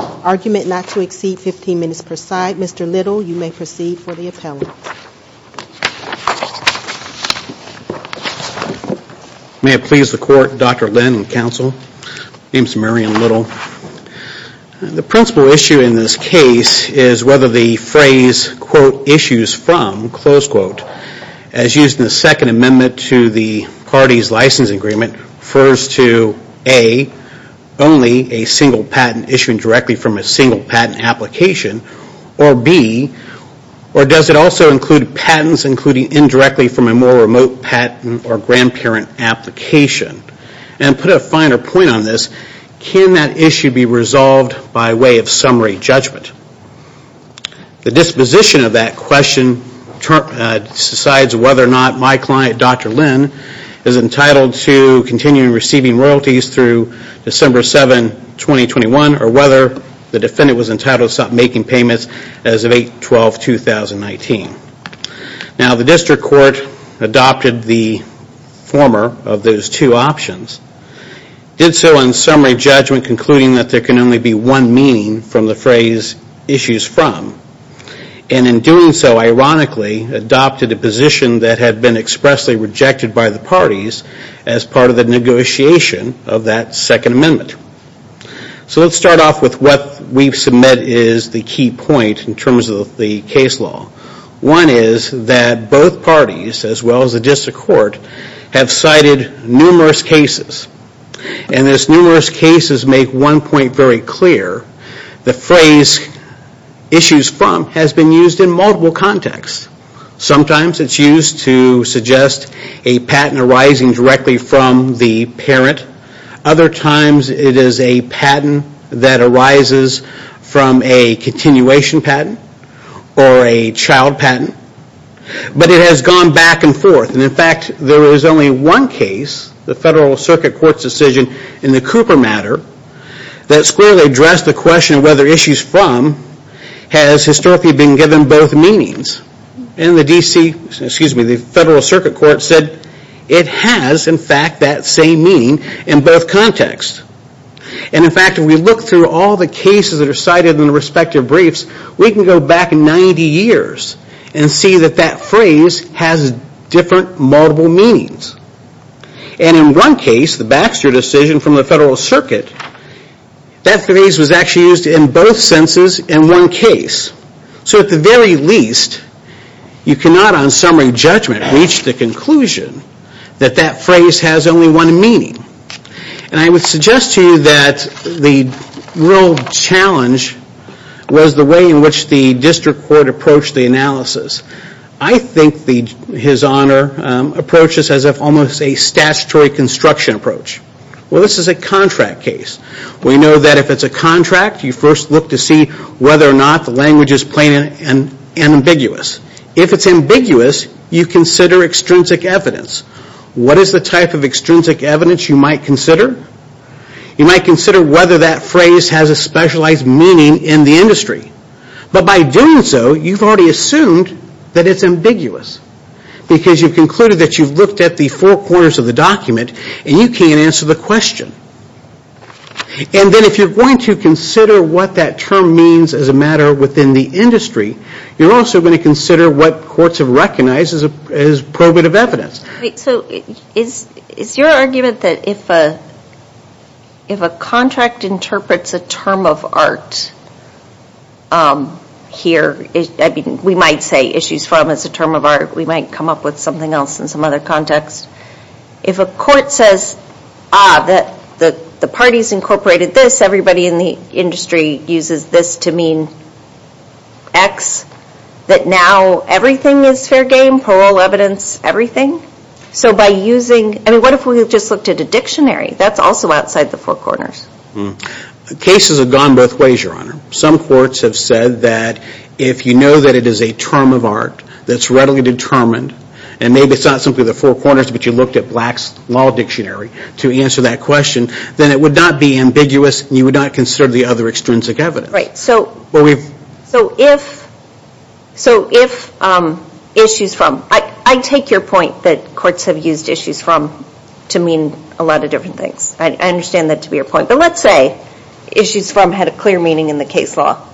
Argument not to exceed 15 minutes per side. Mr. Little, you may proceed for the appellate. May it please the court, Dr. Lynn and counsel. My name is Marion Little. The principal issue in this case is whether the phrase, quote, issues from, close quote, as used in the second part of the case. The second amendment to the party's license agreement refers to, A, only a single patent issued directly from a single patent application, or B, does it also include patents included indirectly from a more remote patent or grandparent application? And to put a finer point on this, can that issue be resolved by way of summary judgment? The disposition of that question decides whether or not my client, Dr. Lynn, is entitled to continue receiving royalties through December 7, 2021, or whether the defendant was entitled to stop making payments as of 8-12-2019. Now, the district court adopted the former of those two options, did so in summary judgment concluding that there can only be one meaning from the phrase, issues from, and in doing so, ironically, adopted a position that had been expressly rejected by the parties as part of the negotiation of that second amendment. So let's start off with what we've submitted is the key point in terms of the case law. One is that both parties, as well as the district court, have cited numerous cases. And as numerous cases make one point very clear, the phrase, issues from, has been used in multiple contexts. Sometimes it's used to suggest a patent arising directly from the parent. Other times it is a patent that arises from a continuation patent or a child patent. But it has gone back and forth. And in fact, there is only one case, the federal circuit court's decision in the Cooper matter, that clearly addressed the question of whether issues from has historically been given both meanings. And the federal circuit court said it has, in fact, that same meaning in both contexts. And in fact, if we look through all the cases that are cited in the respective briefs, we can go back 90 years and see that that phrase has different, multiple meanings. And in one case, the Baxter decision from the federal circuit, that phrase was actually used in both senses in one case. So at the very least, you cannot on summary judgment reach the conclusion that that phrase has only one meaning. And I would suggest to you that the real challenge was the way in which the district court approached the analysis. I think his honor approaches as if almost a statutory construction approach. Well, this is a contract case. We know that if it's a contract, you first look to see whether or not the language is plain and ambiguous. If it's ambiguous, you consider extrinsic evidence. What is the type of extrinsic evidence you might consider? You might consider whether that phrase has a specialized meaning in the industry. But by doing so, you've already assumed that it's ambiguous because you've concluded that you've looked at the four corners of the document and you can't answer the question. And then if you're going to consider what that term means as a matter within the industry, you're also going to consider what courts have recognized as probative evidence. So is your argument that if a contract interprets a term of art here, we might say issues from as a term of art, we might come up with something else in some other context. If a court says that the parties incorporated this, everybody in the industry uses this to mean X, that now everything is fair game, parole evidence, everything? And what if we just looked at a dictionary? That's also outside the four corners. Cases have gone both ways, Your Honor. Some courts have said that if you know that it is a term of art that's readily determined, and maybe it's not simply the four corners, but you looked at Black's Law Dictionary to answer that question, then it would not be ambiguous and you would not consider the other extrinsic evidence. Right. So if issues from, I take your point that courts have used issues from to mean a lot of different things. I understand that to be your point. But let's say issues from had a clear meaning in the case law.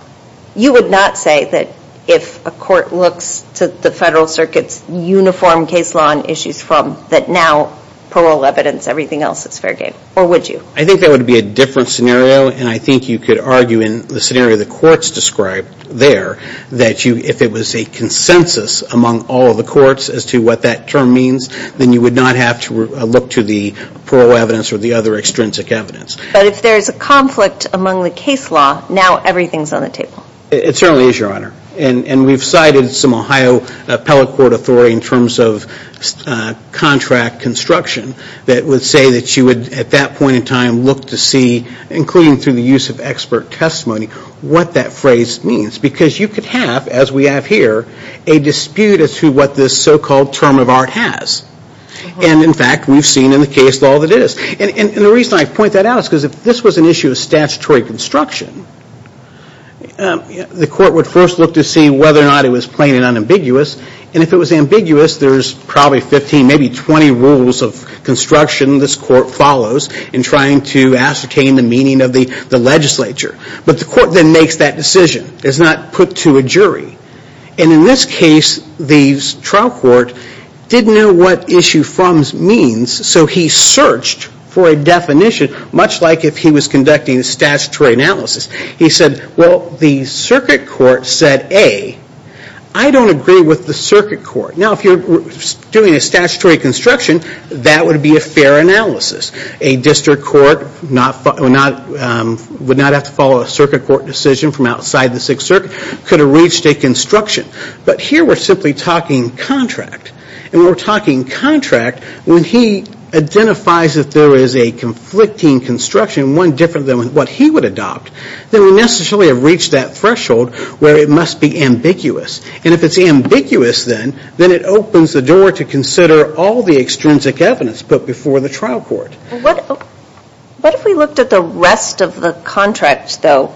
You would not say that if a court looks to the Federal Circuit's uniform case law on issues from that now parole evidence, everything else is fair game, or would you? I think that would be a different scenario, and I think you could argue in the scenario the courts described there that if it was a consensus among all of the courts as to what that term means, then you would not have to look to the parole evidence or the other extrinsic evidence. But if there's a conflict among the case law, now everything's on the table. It certainly is, Your Honor. And we've cited some Ohio appellate court authority in terms of contract construction that would say that you would at that point in time look to see, including through the use of expert testimony, what that phrase means. Because you could have, as we have here, a dispute as to what this so-called term of art has. And in fact, we've seen in the case law that it is. And the reason I point that out is because if this was an issue of statutory construction, the court would first look to see whether or not it was plain and unambiguous. And if it was ambiguous, there's probably 15, maybe 20 rules of construction this court follows in trying to ascertain the meaning of the legislature. But the court then makes that decision. It's not put to a jury. And in this case, the trial court didn't know what issue from means, so he searched for a definition, much like if he was conducting a statutory analysis. He said, well, the circuit court said, A, I don't agree with the circuit court. Now, if you're doing a statutory construction, that would be a fair analysis. A district court would not have to follow a circuit court decision from outside the Sixth Circuit, could have reached a construction. But here we're simply talking contract. And we're talking contract when he identifies that there is a conflicting construction, one different than what he would adopt, then we necessarily have reached that threshold where it must be ambiguous. And if it's ambiguous then, then it opens the door to consider all the extrinsic evidence put before the trial court. What if we looked at the rest of the contract, though,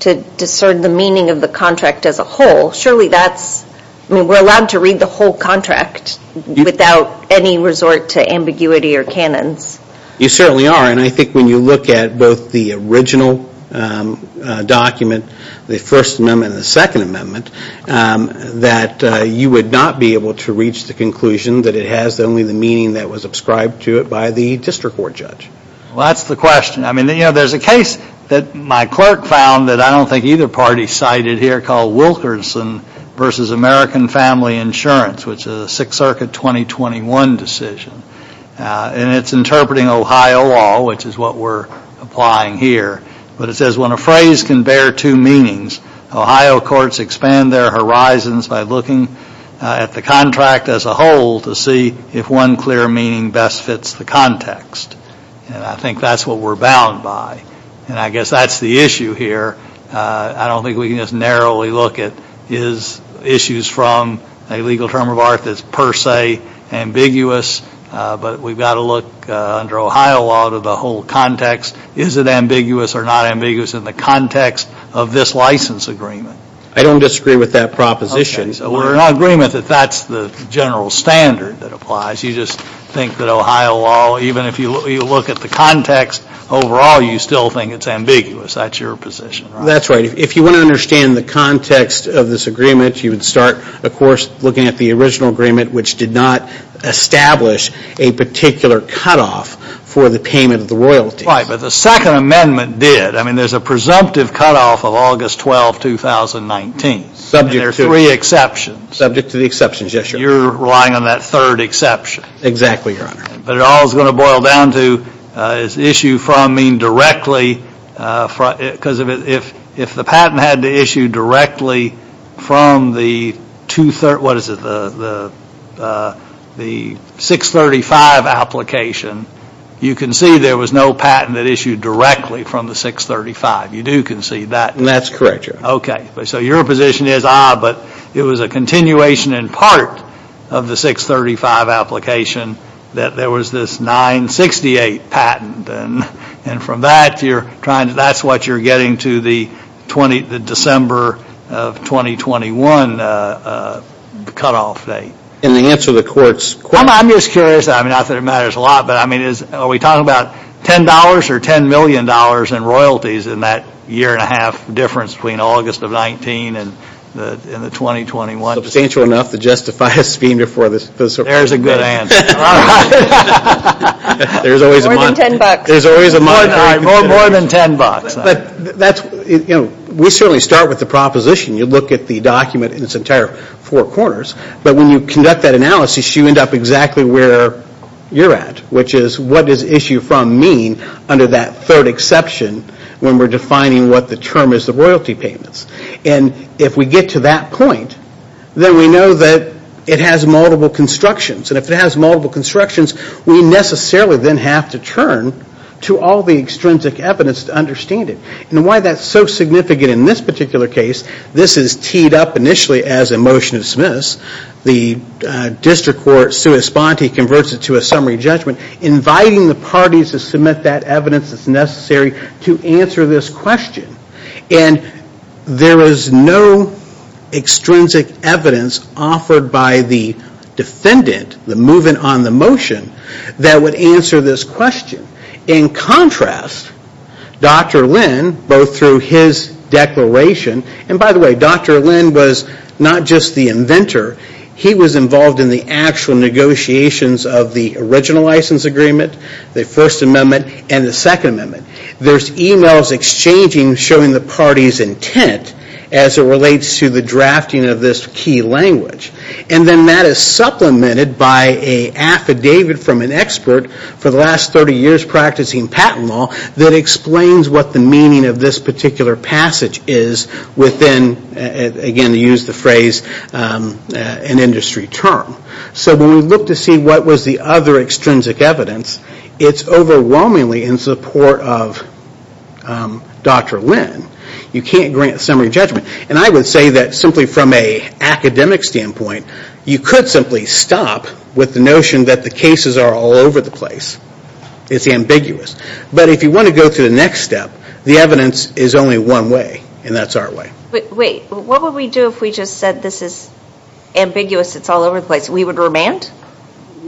to discern the meaning of the contract as a whole? Surely that's, I mean, we're allowed to read the whole contract without any resort to ambiguity or canons. You certainly are. And I think when you look at both the original document, the First Amendment and the Second Amendment, that you would not be able to reach the conclusion that it has only the meaning that was ascribed to it by the district court judge. Well, that's the question. I mean, you know, there's a case that my clerk found that I don't think either party cited here called Wilkerson v. American Family Insurance, which is a Sixth Circuit 2021 decision. And it's interpreting Ohio law, which is what we're applying here. But it says, when a phrase can bear two meanings, Ohio courts expand their horizons by looking at the contract as a whole to see if one clear meaning best fits the context. And I think that's what we're bound by. And I guess that's the issue here. I don't think we can just narrowly look at issues from a legal term of art that's per se ambiguous. But we've got to look under Ohio law to the whole context. Is it ambiguous or not ambiguous in the context of this license agreement? I don't disagree with that proposition. We're in agreement that that's the general standard that applies. You just think that Ohio law, even if you look at the context overall, you still think it's ambiguous. That's your position, right? That's right. If you want to understand the context of this agreement, you would start, of course, looking at the original agreement, which did not establish a particular cutoff for the payment of the royalties. Right, but the Second Amendment did. I mean, there's a presumptive cutoff of August 12, 2019. Subject to the exceptions, yes, Your Honor. You're relying on that third exception. Exactly, Your Honor. But it all is going to boil down to, does issue from mean directly? Because if the patent had to issue directly from the 635 application, you concede there was no patent that issued directly from the 635. You do concede that? That's correct, Your Honor. Okay, so your position is, ah, but it was a continuation in part of the 635 application that there was this 968 patent. And from that, you're trying to, that's what you're getting to the December of 2021 cutoff date. And the answer to the court's question? I'm just curious, I mean, not that it matters a lot, but I mean, are we talking about $10 or $10 million in royalties in that year and a half difference between August of 19 and the 2021? Substantial enough to justify a scheme before the Supreme Court. There's a good answer. All right. There's always a month. More than $10. There's always a month. All right, more than $10. But that's, you know, we certainly start with the proposition. You look at the document in its entire four corners. But when you conduct that analysis, you end up exactly where you're at, which is what does issue from mean under that third exception when we're defining what the term is the royalty payments. And if we get to that point, then we know that it has multiple constructions. And if it has multiple constructions, we necessarily then have to turn to all the extrinsic evidence to understand it. And why that's so significant in this particular case, this is teed up initially as a motion to dismiss. The district court sui sponte converts it to a summary judgment, inviting the parties to submit that evidence that's necessary to answer this question. And there is no extrinsic evidence offered by the defendant, the movement on the motion, that would answer this question. In contrast, Dr. Lynn, both through his declaration, and by the way, Dr. Lynn was not just the inventor. He was involved in the actual negotiations of the original license agreement, the First Amendment, and the Second Amendment. There's emails exchanging showing the party's intent as it relates to the drafting of this key language. And then that is supplemented by an affidavit from an expert for the last 30 years practicing patent law that explains what the meaning of this particular passage is within, again, to use the phrase, an industry term. So when we look to see what was the other extrinsic evidence, it's overwhelmingly in support of Dr. Lynn. You can't grant a summary judgment. And I would say that simply from an academic standpoint, you could simply stop with the notion that the cases are all over the place. It's ambiguous. But if you want to go to the next step, the evidence is only one way, and that's our way. Wait, what would we do if we just said this is ambiguous, it's all over the place? We would remand?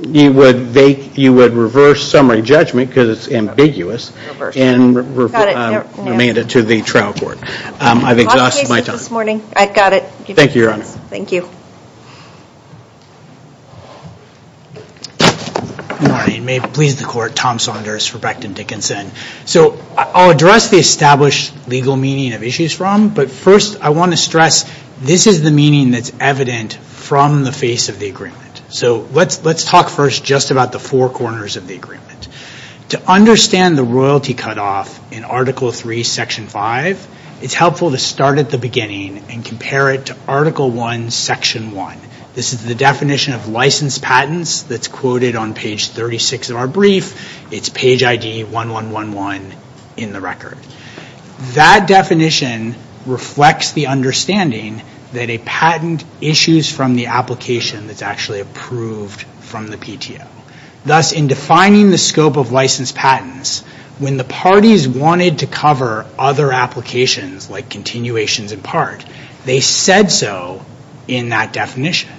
You would reverse summary judgment because it's ambiguous and remand it to the trial court. I've exhausted my time. I've got it. Thank you, Your Honor. Thank you. Good morning. May it please the Court. Tom Saunders for Becton Dickinson. So I'll address the established legal meaning of issues from, but first I want to stress this is the meaning that's evident from the face of the agreement. So let's talk first just about the four corners of the agreement. To understand the royalty cutoff in Article III, Section 5, it's helpful to start at the beginning and compare it to Article I, Section 1. This is the definition of licensed patents that's quoted on page 36 of our brief. It's page ID 1111 in the record. That definition reflects the understanding that a patent issues from the application that's actually approved from the PTO. Thus, in defining the scope of licensed patents, when the parties wanted to cover other applications like continuations in part, they said so in that definition.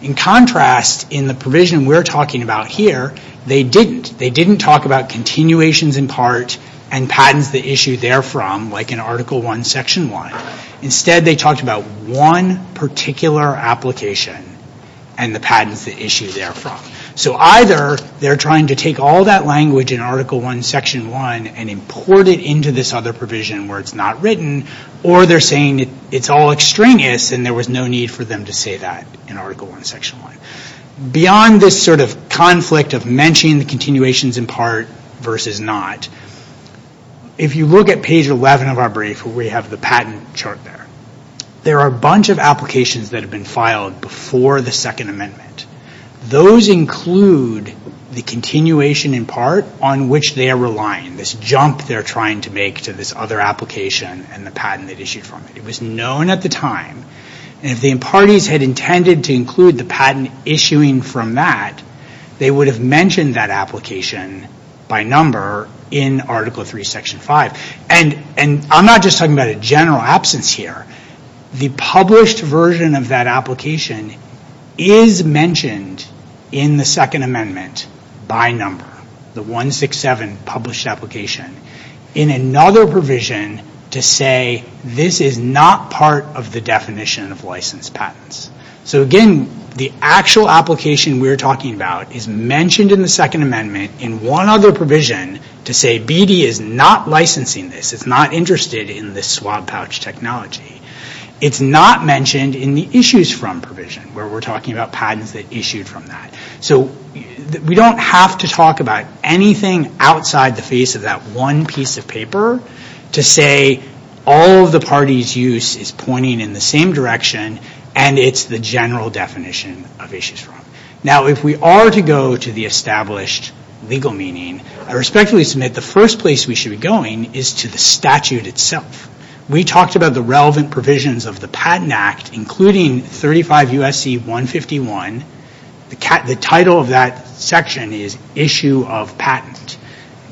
In contrast, in the provision we're talking about here, they didn't. They didn't talk about continuations in part and patents that issue therefrom like in Article I, Section 1. Instead, they talked about one particular application and the patents that issue therefrom. So either they're trying to take all that language in Article I, Section 1 and import it into this other provision where it's not written, or they're saying it's all extraneous and there was no need for them to say that in Article I, Section 1. Beyond this sort of conflict of mentioning the continuations in part versus not, if you look at page 11 of our brief where we have the patent chart there, there are a bunch of applications that have been filed before the Second Amendment. Those include the continuation in part on which they are relying, this jump they're trying to make to this other application and the patent they issued from it. It was known at the time. And if the parties had intended to include the patent issuing from that, they would have mentioned that application by number in Article III, Section 5. And I'm not just talking about a general absence here. The published version of that application is mentioned in the Second Amendment by number, the 167 published application, in another provision to say this is not part of the definition of licensed patents. So again, the actual application we're talking about is mentioned in the Second Amendment in one other provision to say BD is not licensing this. It's not interested in this swab pouch technology. It's not mentioned in the issues from provision where we're talking about patents that issued from that. So we don't have to talk about anything outside the face of that one piece of paper to say all of the parties' use is pointing in the same direction and it's the general definition of issues from. Now, if we are to go to the established legal meaning, I respectfully submit the first place we should be going is to the statute itself. We talked about the relevant provisions of the Patent Act, including 35 U.S.C. 151, the title of that section is Issue of Patent.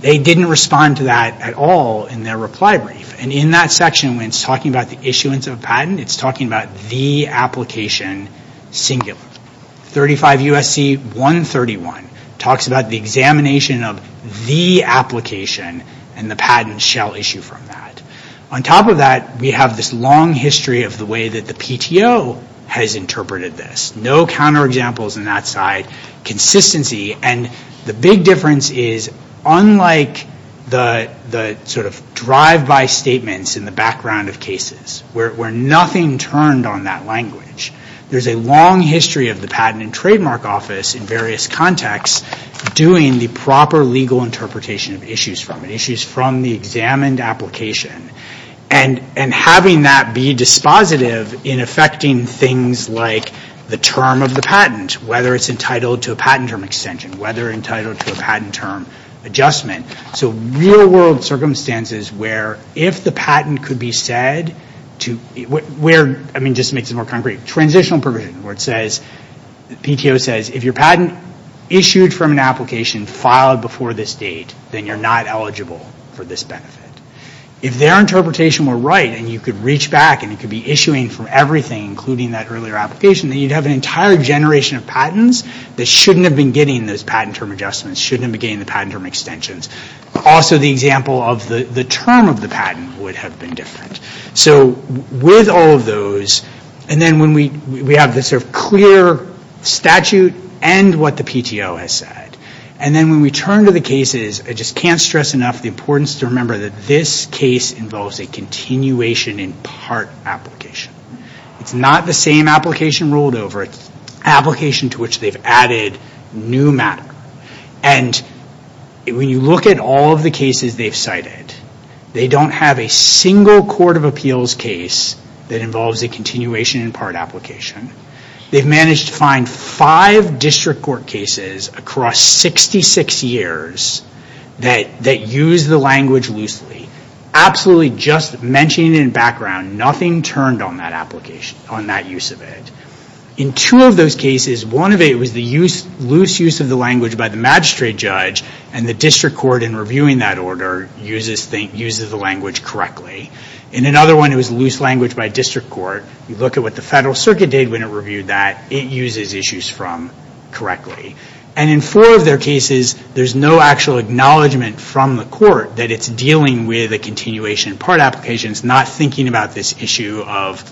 They didn't respond to that at all in their reply brief. And in that section, when it's talking about the issuance of a patent, it's talking about the application singular. 35 U.S.C. 131 talks about the examination of the application and the patent shall issue from that. On top of that, we have this long history of the way that the PTO has interpreted this. No counterexamples on that side. Consistency. And the big difference is unlike the sort of drive-by statements in the background of cases where nothing turned on that language, there's a long history of the Patent and Trademark Office in various contexts doing the proper legal interpretation of issues from it, issues from the examined application. And having that be dispositive in affecting things like the term of the patent, whether it's entitled to a patent term extension, whether entitled to a patent term adjustment. So real-world circumstances where if the patent could be said to... I mean, just to make this more concrete, transitional provision where it says, PTO says, if your patent issued from an application filed before this date, then you're not eligible for this benefit. If their interpretation were right and you could reach back and it could be issuing from everything, including that earlier application, then you'd have an entire generation of patents that shouldn't have been getting those patent term adjustments, shouldn't have been getting the patent term extensions. Also, the example of the term of the patent would have been different. So with all of those, and then when we have this sort of clear statute and what the PTO has said, and then when we turn to the cases, I just can't stress enough the importance to remember that this case involves a continuation in part application. It's not the same application rolled over. It's an application to which they've added new matter. And when you look at all of the cases they've cited, they don't have a single court of appeals case that involves a continuation in part application. They've managed to find five district court cases across 66 years that use the language loosely. Absolutely just mentioning it in background, nothing turned on that use of it. In two of those cases, one of it was the loose use of the language by the magistrate judge, and the district court in reviewing that order uses the language correctly. In another one, it was loose language by district court. You look at what the Federal Circuit did when it reviewed that. It uses issues from correctly. And in four of their cases, there's no actual acknowledgement from the court that it's dealing with a continuation in part application. It's not thinking about this issue of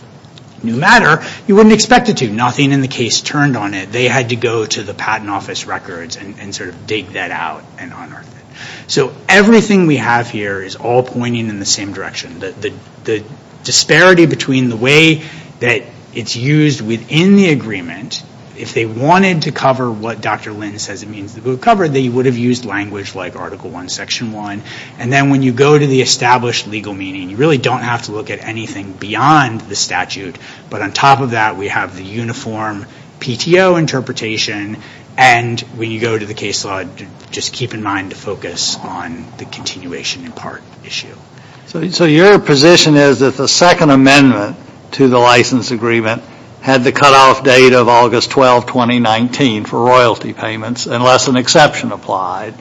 new matter. You wouldn't expect it to. Nothing in the case turned on it. They had to go to the Patent Office records and sort of dig that out and unearth it. So everything we have here is all pointing in the same direction. The disparity between the way that it's used within the agreement, if they wanted to cover what Dr. Lynn says it means to cover, they would have used language like Article I, Section 1. And then when you go to the established legal meaning, you really don't have to look at anything beyond the statute. But on top of that, we have the uniform PTO interpretation. And when you go to the case law, just keep in mind to focus on the continuation in part issue. So your position is that the second amendment to the license agreement had the cutoff date of August 12, 2019 for royalty payments unless an exception applied.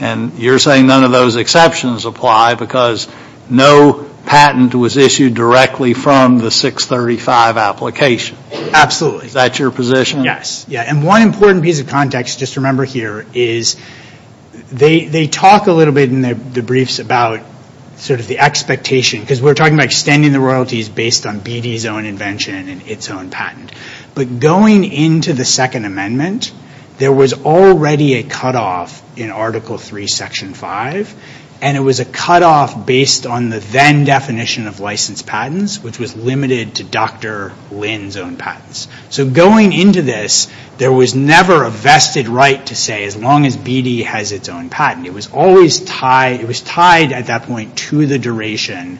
And you're saying none of those exceptions apply because no patent was issued directly from the 635 application. Absolutely. Is that your position? Yes. And one important piece of context, just remember here, is they talk a little bit in the briefs about sort of the expectation because we're talking about extending the royalties based on BD's own invention and its own patent. But going into the second amendment, there was already a cutoff in Article III, Section 5. And it was a cutoff based on the then definition of licensed patents, which was limited to Dr. Lynn's own patents. So going into this, there was never a vested right to say as long as BD has its own patent. It was tied at that point to the duration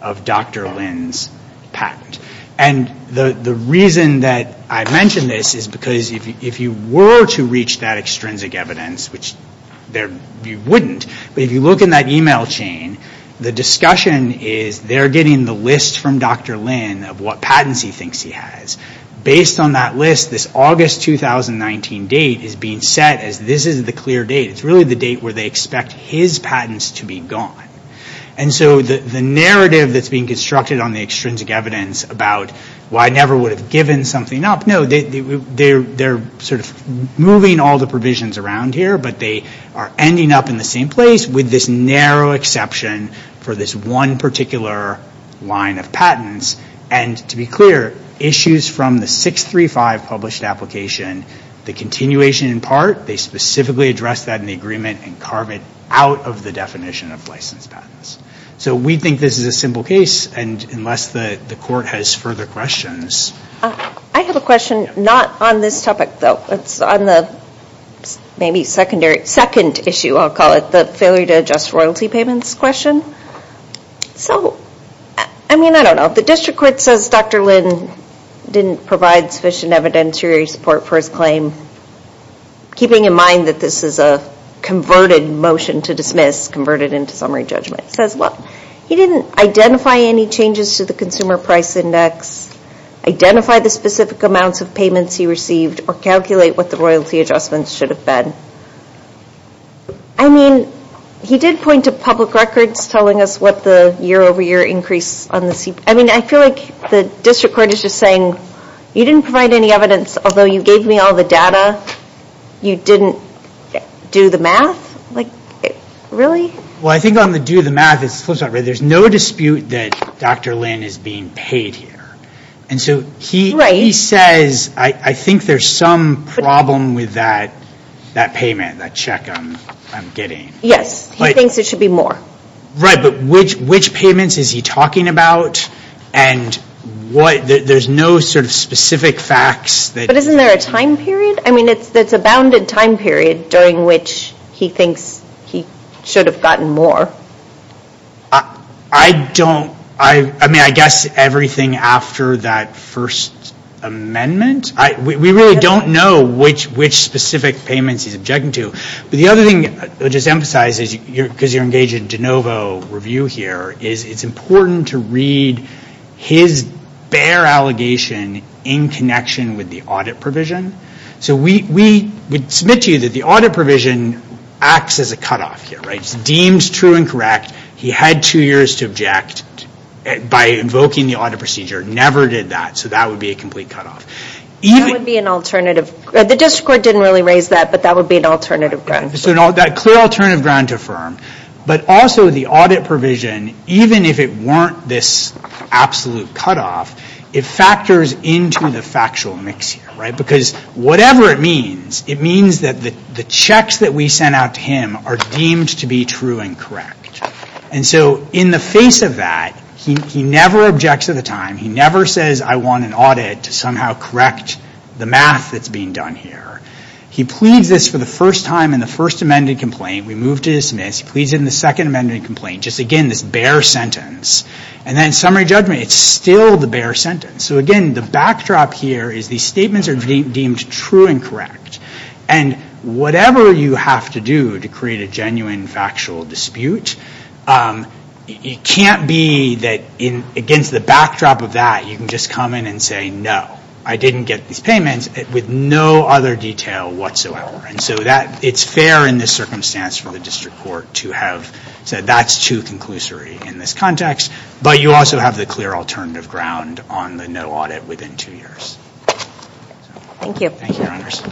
of Dr. Lynn's patent. And the reason that I mention this is because if you were to reach that extrinsic evidence, which you wouldn't, but if you look in that email chain, the discussion is they're getting the list from Dr. Lynn of what patents he thinks he has. Based on that list, this August 2019 date is being set as this is the clear date. It's really the date where they expect his patents to be gone. And so the narrative that's being constructed on the extrinsic evidence about why I never would have given something up, no, they're sort of moving all the provisions around here, but they are ending up in the same place with this narrow exception for this one particular line of patents. And to be clear, issues from the 635 published application, the continuation in part, they specifically address that in the agreement and carve it out of the definition of licensed patents. So we think this is a simple case, and unless the court has further questions. I have a question not on this topic, though. It's on the maybe secondary, second issue, I'll call it, the failure to adjust royalty payments question. So, I mean, I don't know. The district court says Dr. Lynn didn't provide sufficient evidentiary support for his claim, keeping in mind that this is a converted motion to dismiss, converted into summary judgment. It says, well, he didn't identify any changes to the consumer price index, identify the specific amounts of payments he received, or calculate what the royalty adjustments should have been. I mean, he did point to public records, telling us what the year-over-year increase on the, I mean, I feel like the district court is just saying, you didn't provide any evidence, although you gave me all the data, you didn't do the math? Like, really? Well, I think on the do the math, there's no dispute that Dr. Lynn is being paid here. And so he says, I think there's some problem with that payment, that check I'm getting. Yes, he thinks it should be more. Right, but which payments is he talking about? And what, there's no sort of specific facts? But isn't there a time period? I mean, it's a bounded time period during which he thinks he should have gotten more. I don't, I mean, I guess everything after that first amendment. We really don't know which specific payments he's objecting to. But the other thing I'll just emphasize, because you're engaged in de novo review here, is it's important to read his bare allegation in connection with the audit provision. So we submit to you that the audit provision acts as a cutoff here, right? It seems true and correct. He had two years to object by invoking the audit procedure, never did that. So that would be a complete cutoff. That would be an alternative. The district court didn't really raise that, but that would be an alternative ground. So that clear alternative ground to affirm. But also the audit provision, even if it weren't this absolute cutoff, it factors into the factual mix here, right? Because whatever it means, it means that the checks that we sent out to him are deemed to be true and correct. And so in the face of that, he never objects at the time. He never says, I want an audit to somehow correct the math that's being done here. He pleads this for the first time in the first amended complaint. We move to dismiss. He pleads it in the second amended complaint. Just, again, this bare sentence. And then summary judgment, it's still the bare sentence. So again, the backdrop here is these statements are deemed true and correct. And whatever you have to do to create a genuine factual dispute, it can't be that against the backdrop of that, you can just come in and say, no, I didn't get these payments with no other detail whatsoever. And so it's fair in this circumstance for the district court to have said that's too conclusory in this context. But you also have the clear alternative ground on the no audit within two years. Thank you. Thank you, Your Honors.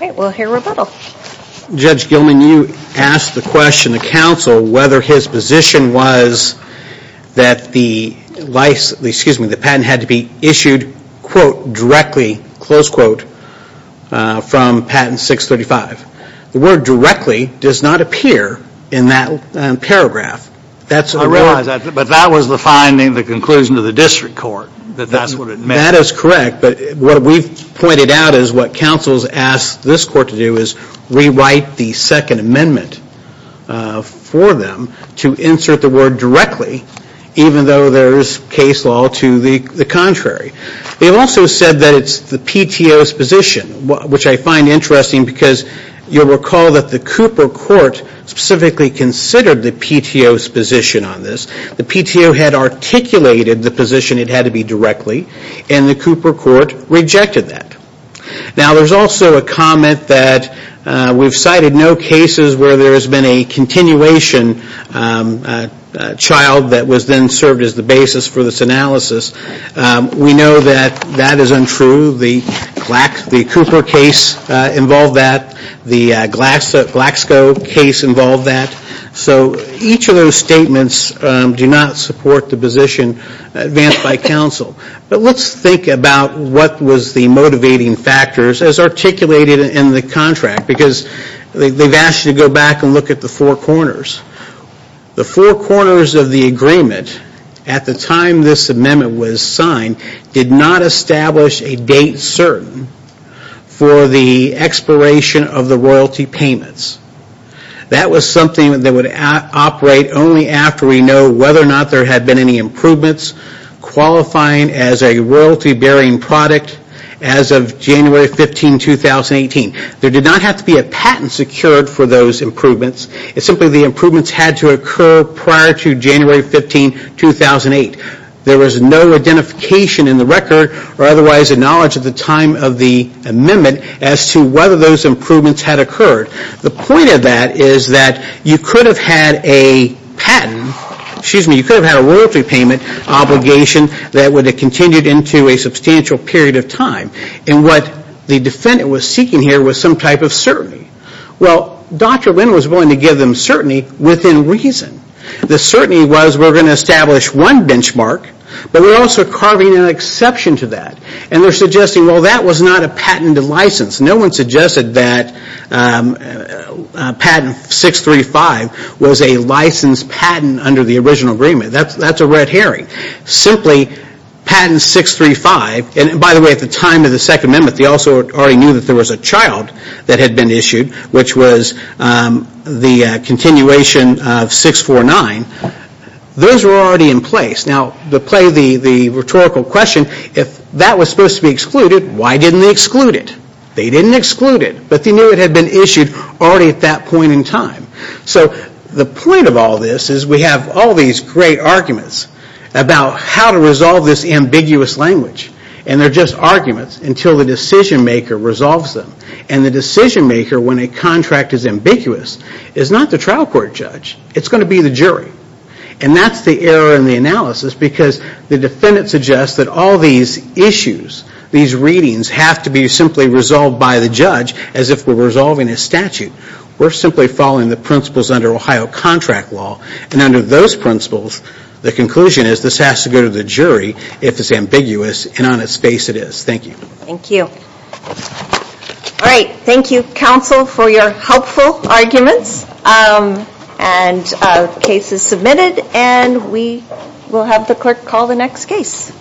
All right, we'll hear rebuttal. Judge Gilman, you asked the question to counsel whether his position was that the patent had to be issued, quote, directly, close quote, from patent 635. The word directly does not appear in that paragraph. I realize that, but that was the finding, the conclusion of the district court, that that's what it meant. That is correct. But what we've pointed out is what counsel has asked this court to do is rewrite the second amendment for them to insert the word directly, even though there is case law to the contrary. They've also said that it's the PTO's position, which I find interesting because you'll recall that the Cooper court specifically considered the PTO's position on this. The PTO had articulated the position it had to be directly, and the Cooper court rejected that. Now, there's also a comment that we've cited no cases where there has been a continuation child that was then served as the basis for this analysis. We know that that is untrue. The Cooper case involved that. The Glaxo case involved that. So each of those statements do not support the position advanced by counsel. But let's think about what was the motivating factors as articulated in the contract, because they've asked you to go back and look at the four corners. The four corners of the agreement at the time this amendment was signed did not establish a date certain for the expiration of the royalty payments. That was something that would operate only after we know whether or not there had been any improvements qualifying as a royalty bearing product as of January 15, 2018. There did not have to be a patent secured for those improvements. It's simply the improvements had to occur prior to January 15, 2008. There was no identification in the record or otherwise a knowledge at the time of the amendment as to whether those improvements had occurred. The point of that is that you could have had a royalty payment obligation that would have continued into a substantial period of time. And what the defendant was seeking here was some type of certainty. Well, Dr. Lynn was willing to give them certainty within reason. The certainty was we're going to establish one benchmark, but we're also carving an exception to that. And they're suggesting, well, that was not a patented license. No one suggested that patent 635 was a licensed patent under the original agreement. That's a red herring. Simply patent 635, and by the way, at the time of the second amendment, they also already knew that there was a child that had been issued, which was the continuation of 649. Those were already in place. Now, to play the rhetorical question, if that was supposed to be excluded, why didn't they exclude it? They didn't exclude it, but they knew it had been issued already at that point in time. So the point of all this is we have all these great arguments about how to resolve this ambiguous language. And they're just arguments until the decision maker resolves them. And the decision maker, when a contract is ambiguous, is not the trial court judge. It's going to be the jury. And that's the error in the analysis because the defendant suggests that all these issues, these readings have to be simply resolved by the judge as if we're resolving a statute. We're simply following the principles under Ohio contract law. And under those principles, the conclusion is this has to go to the jury if it's ambiguous and on its face it is. Thank you. Thank you. All right. Thank you, counsel, for your helpful arguments. And the case is submitted. And we will have the clerk call the next case.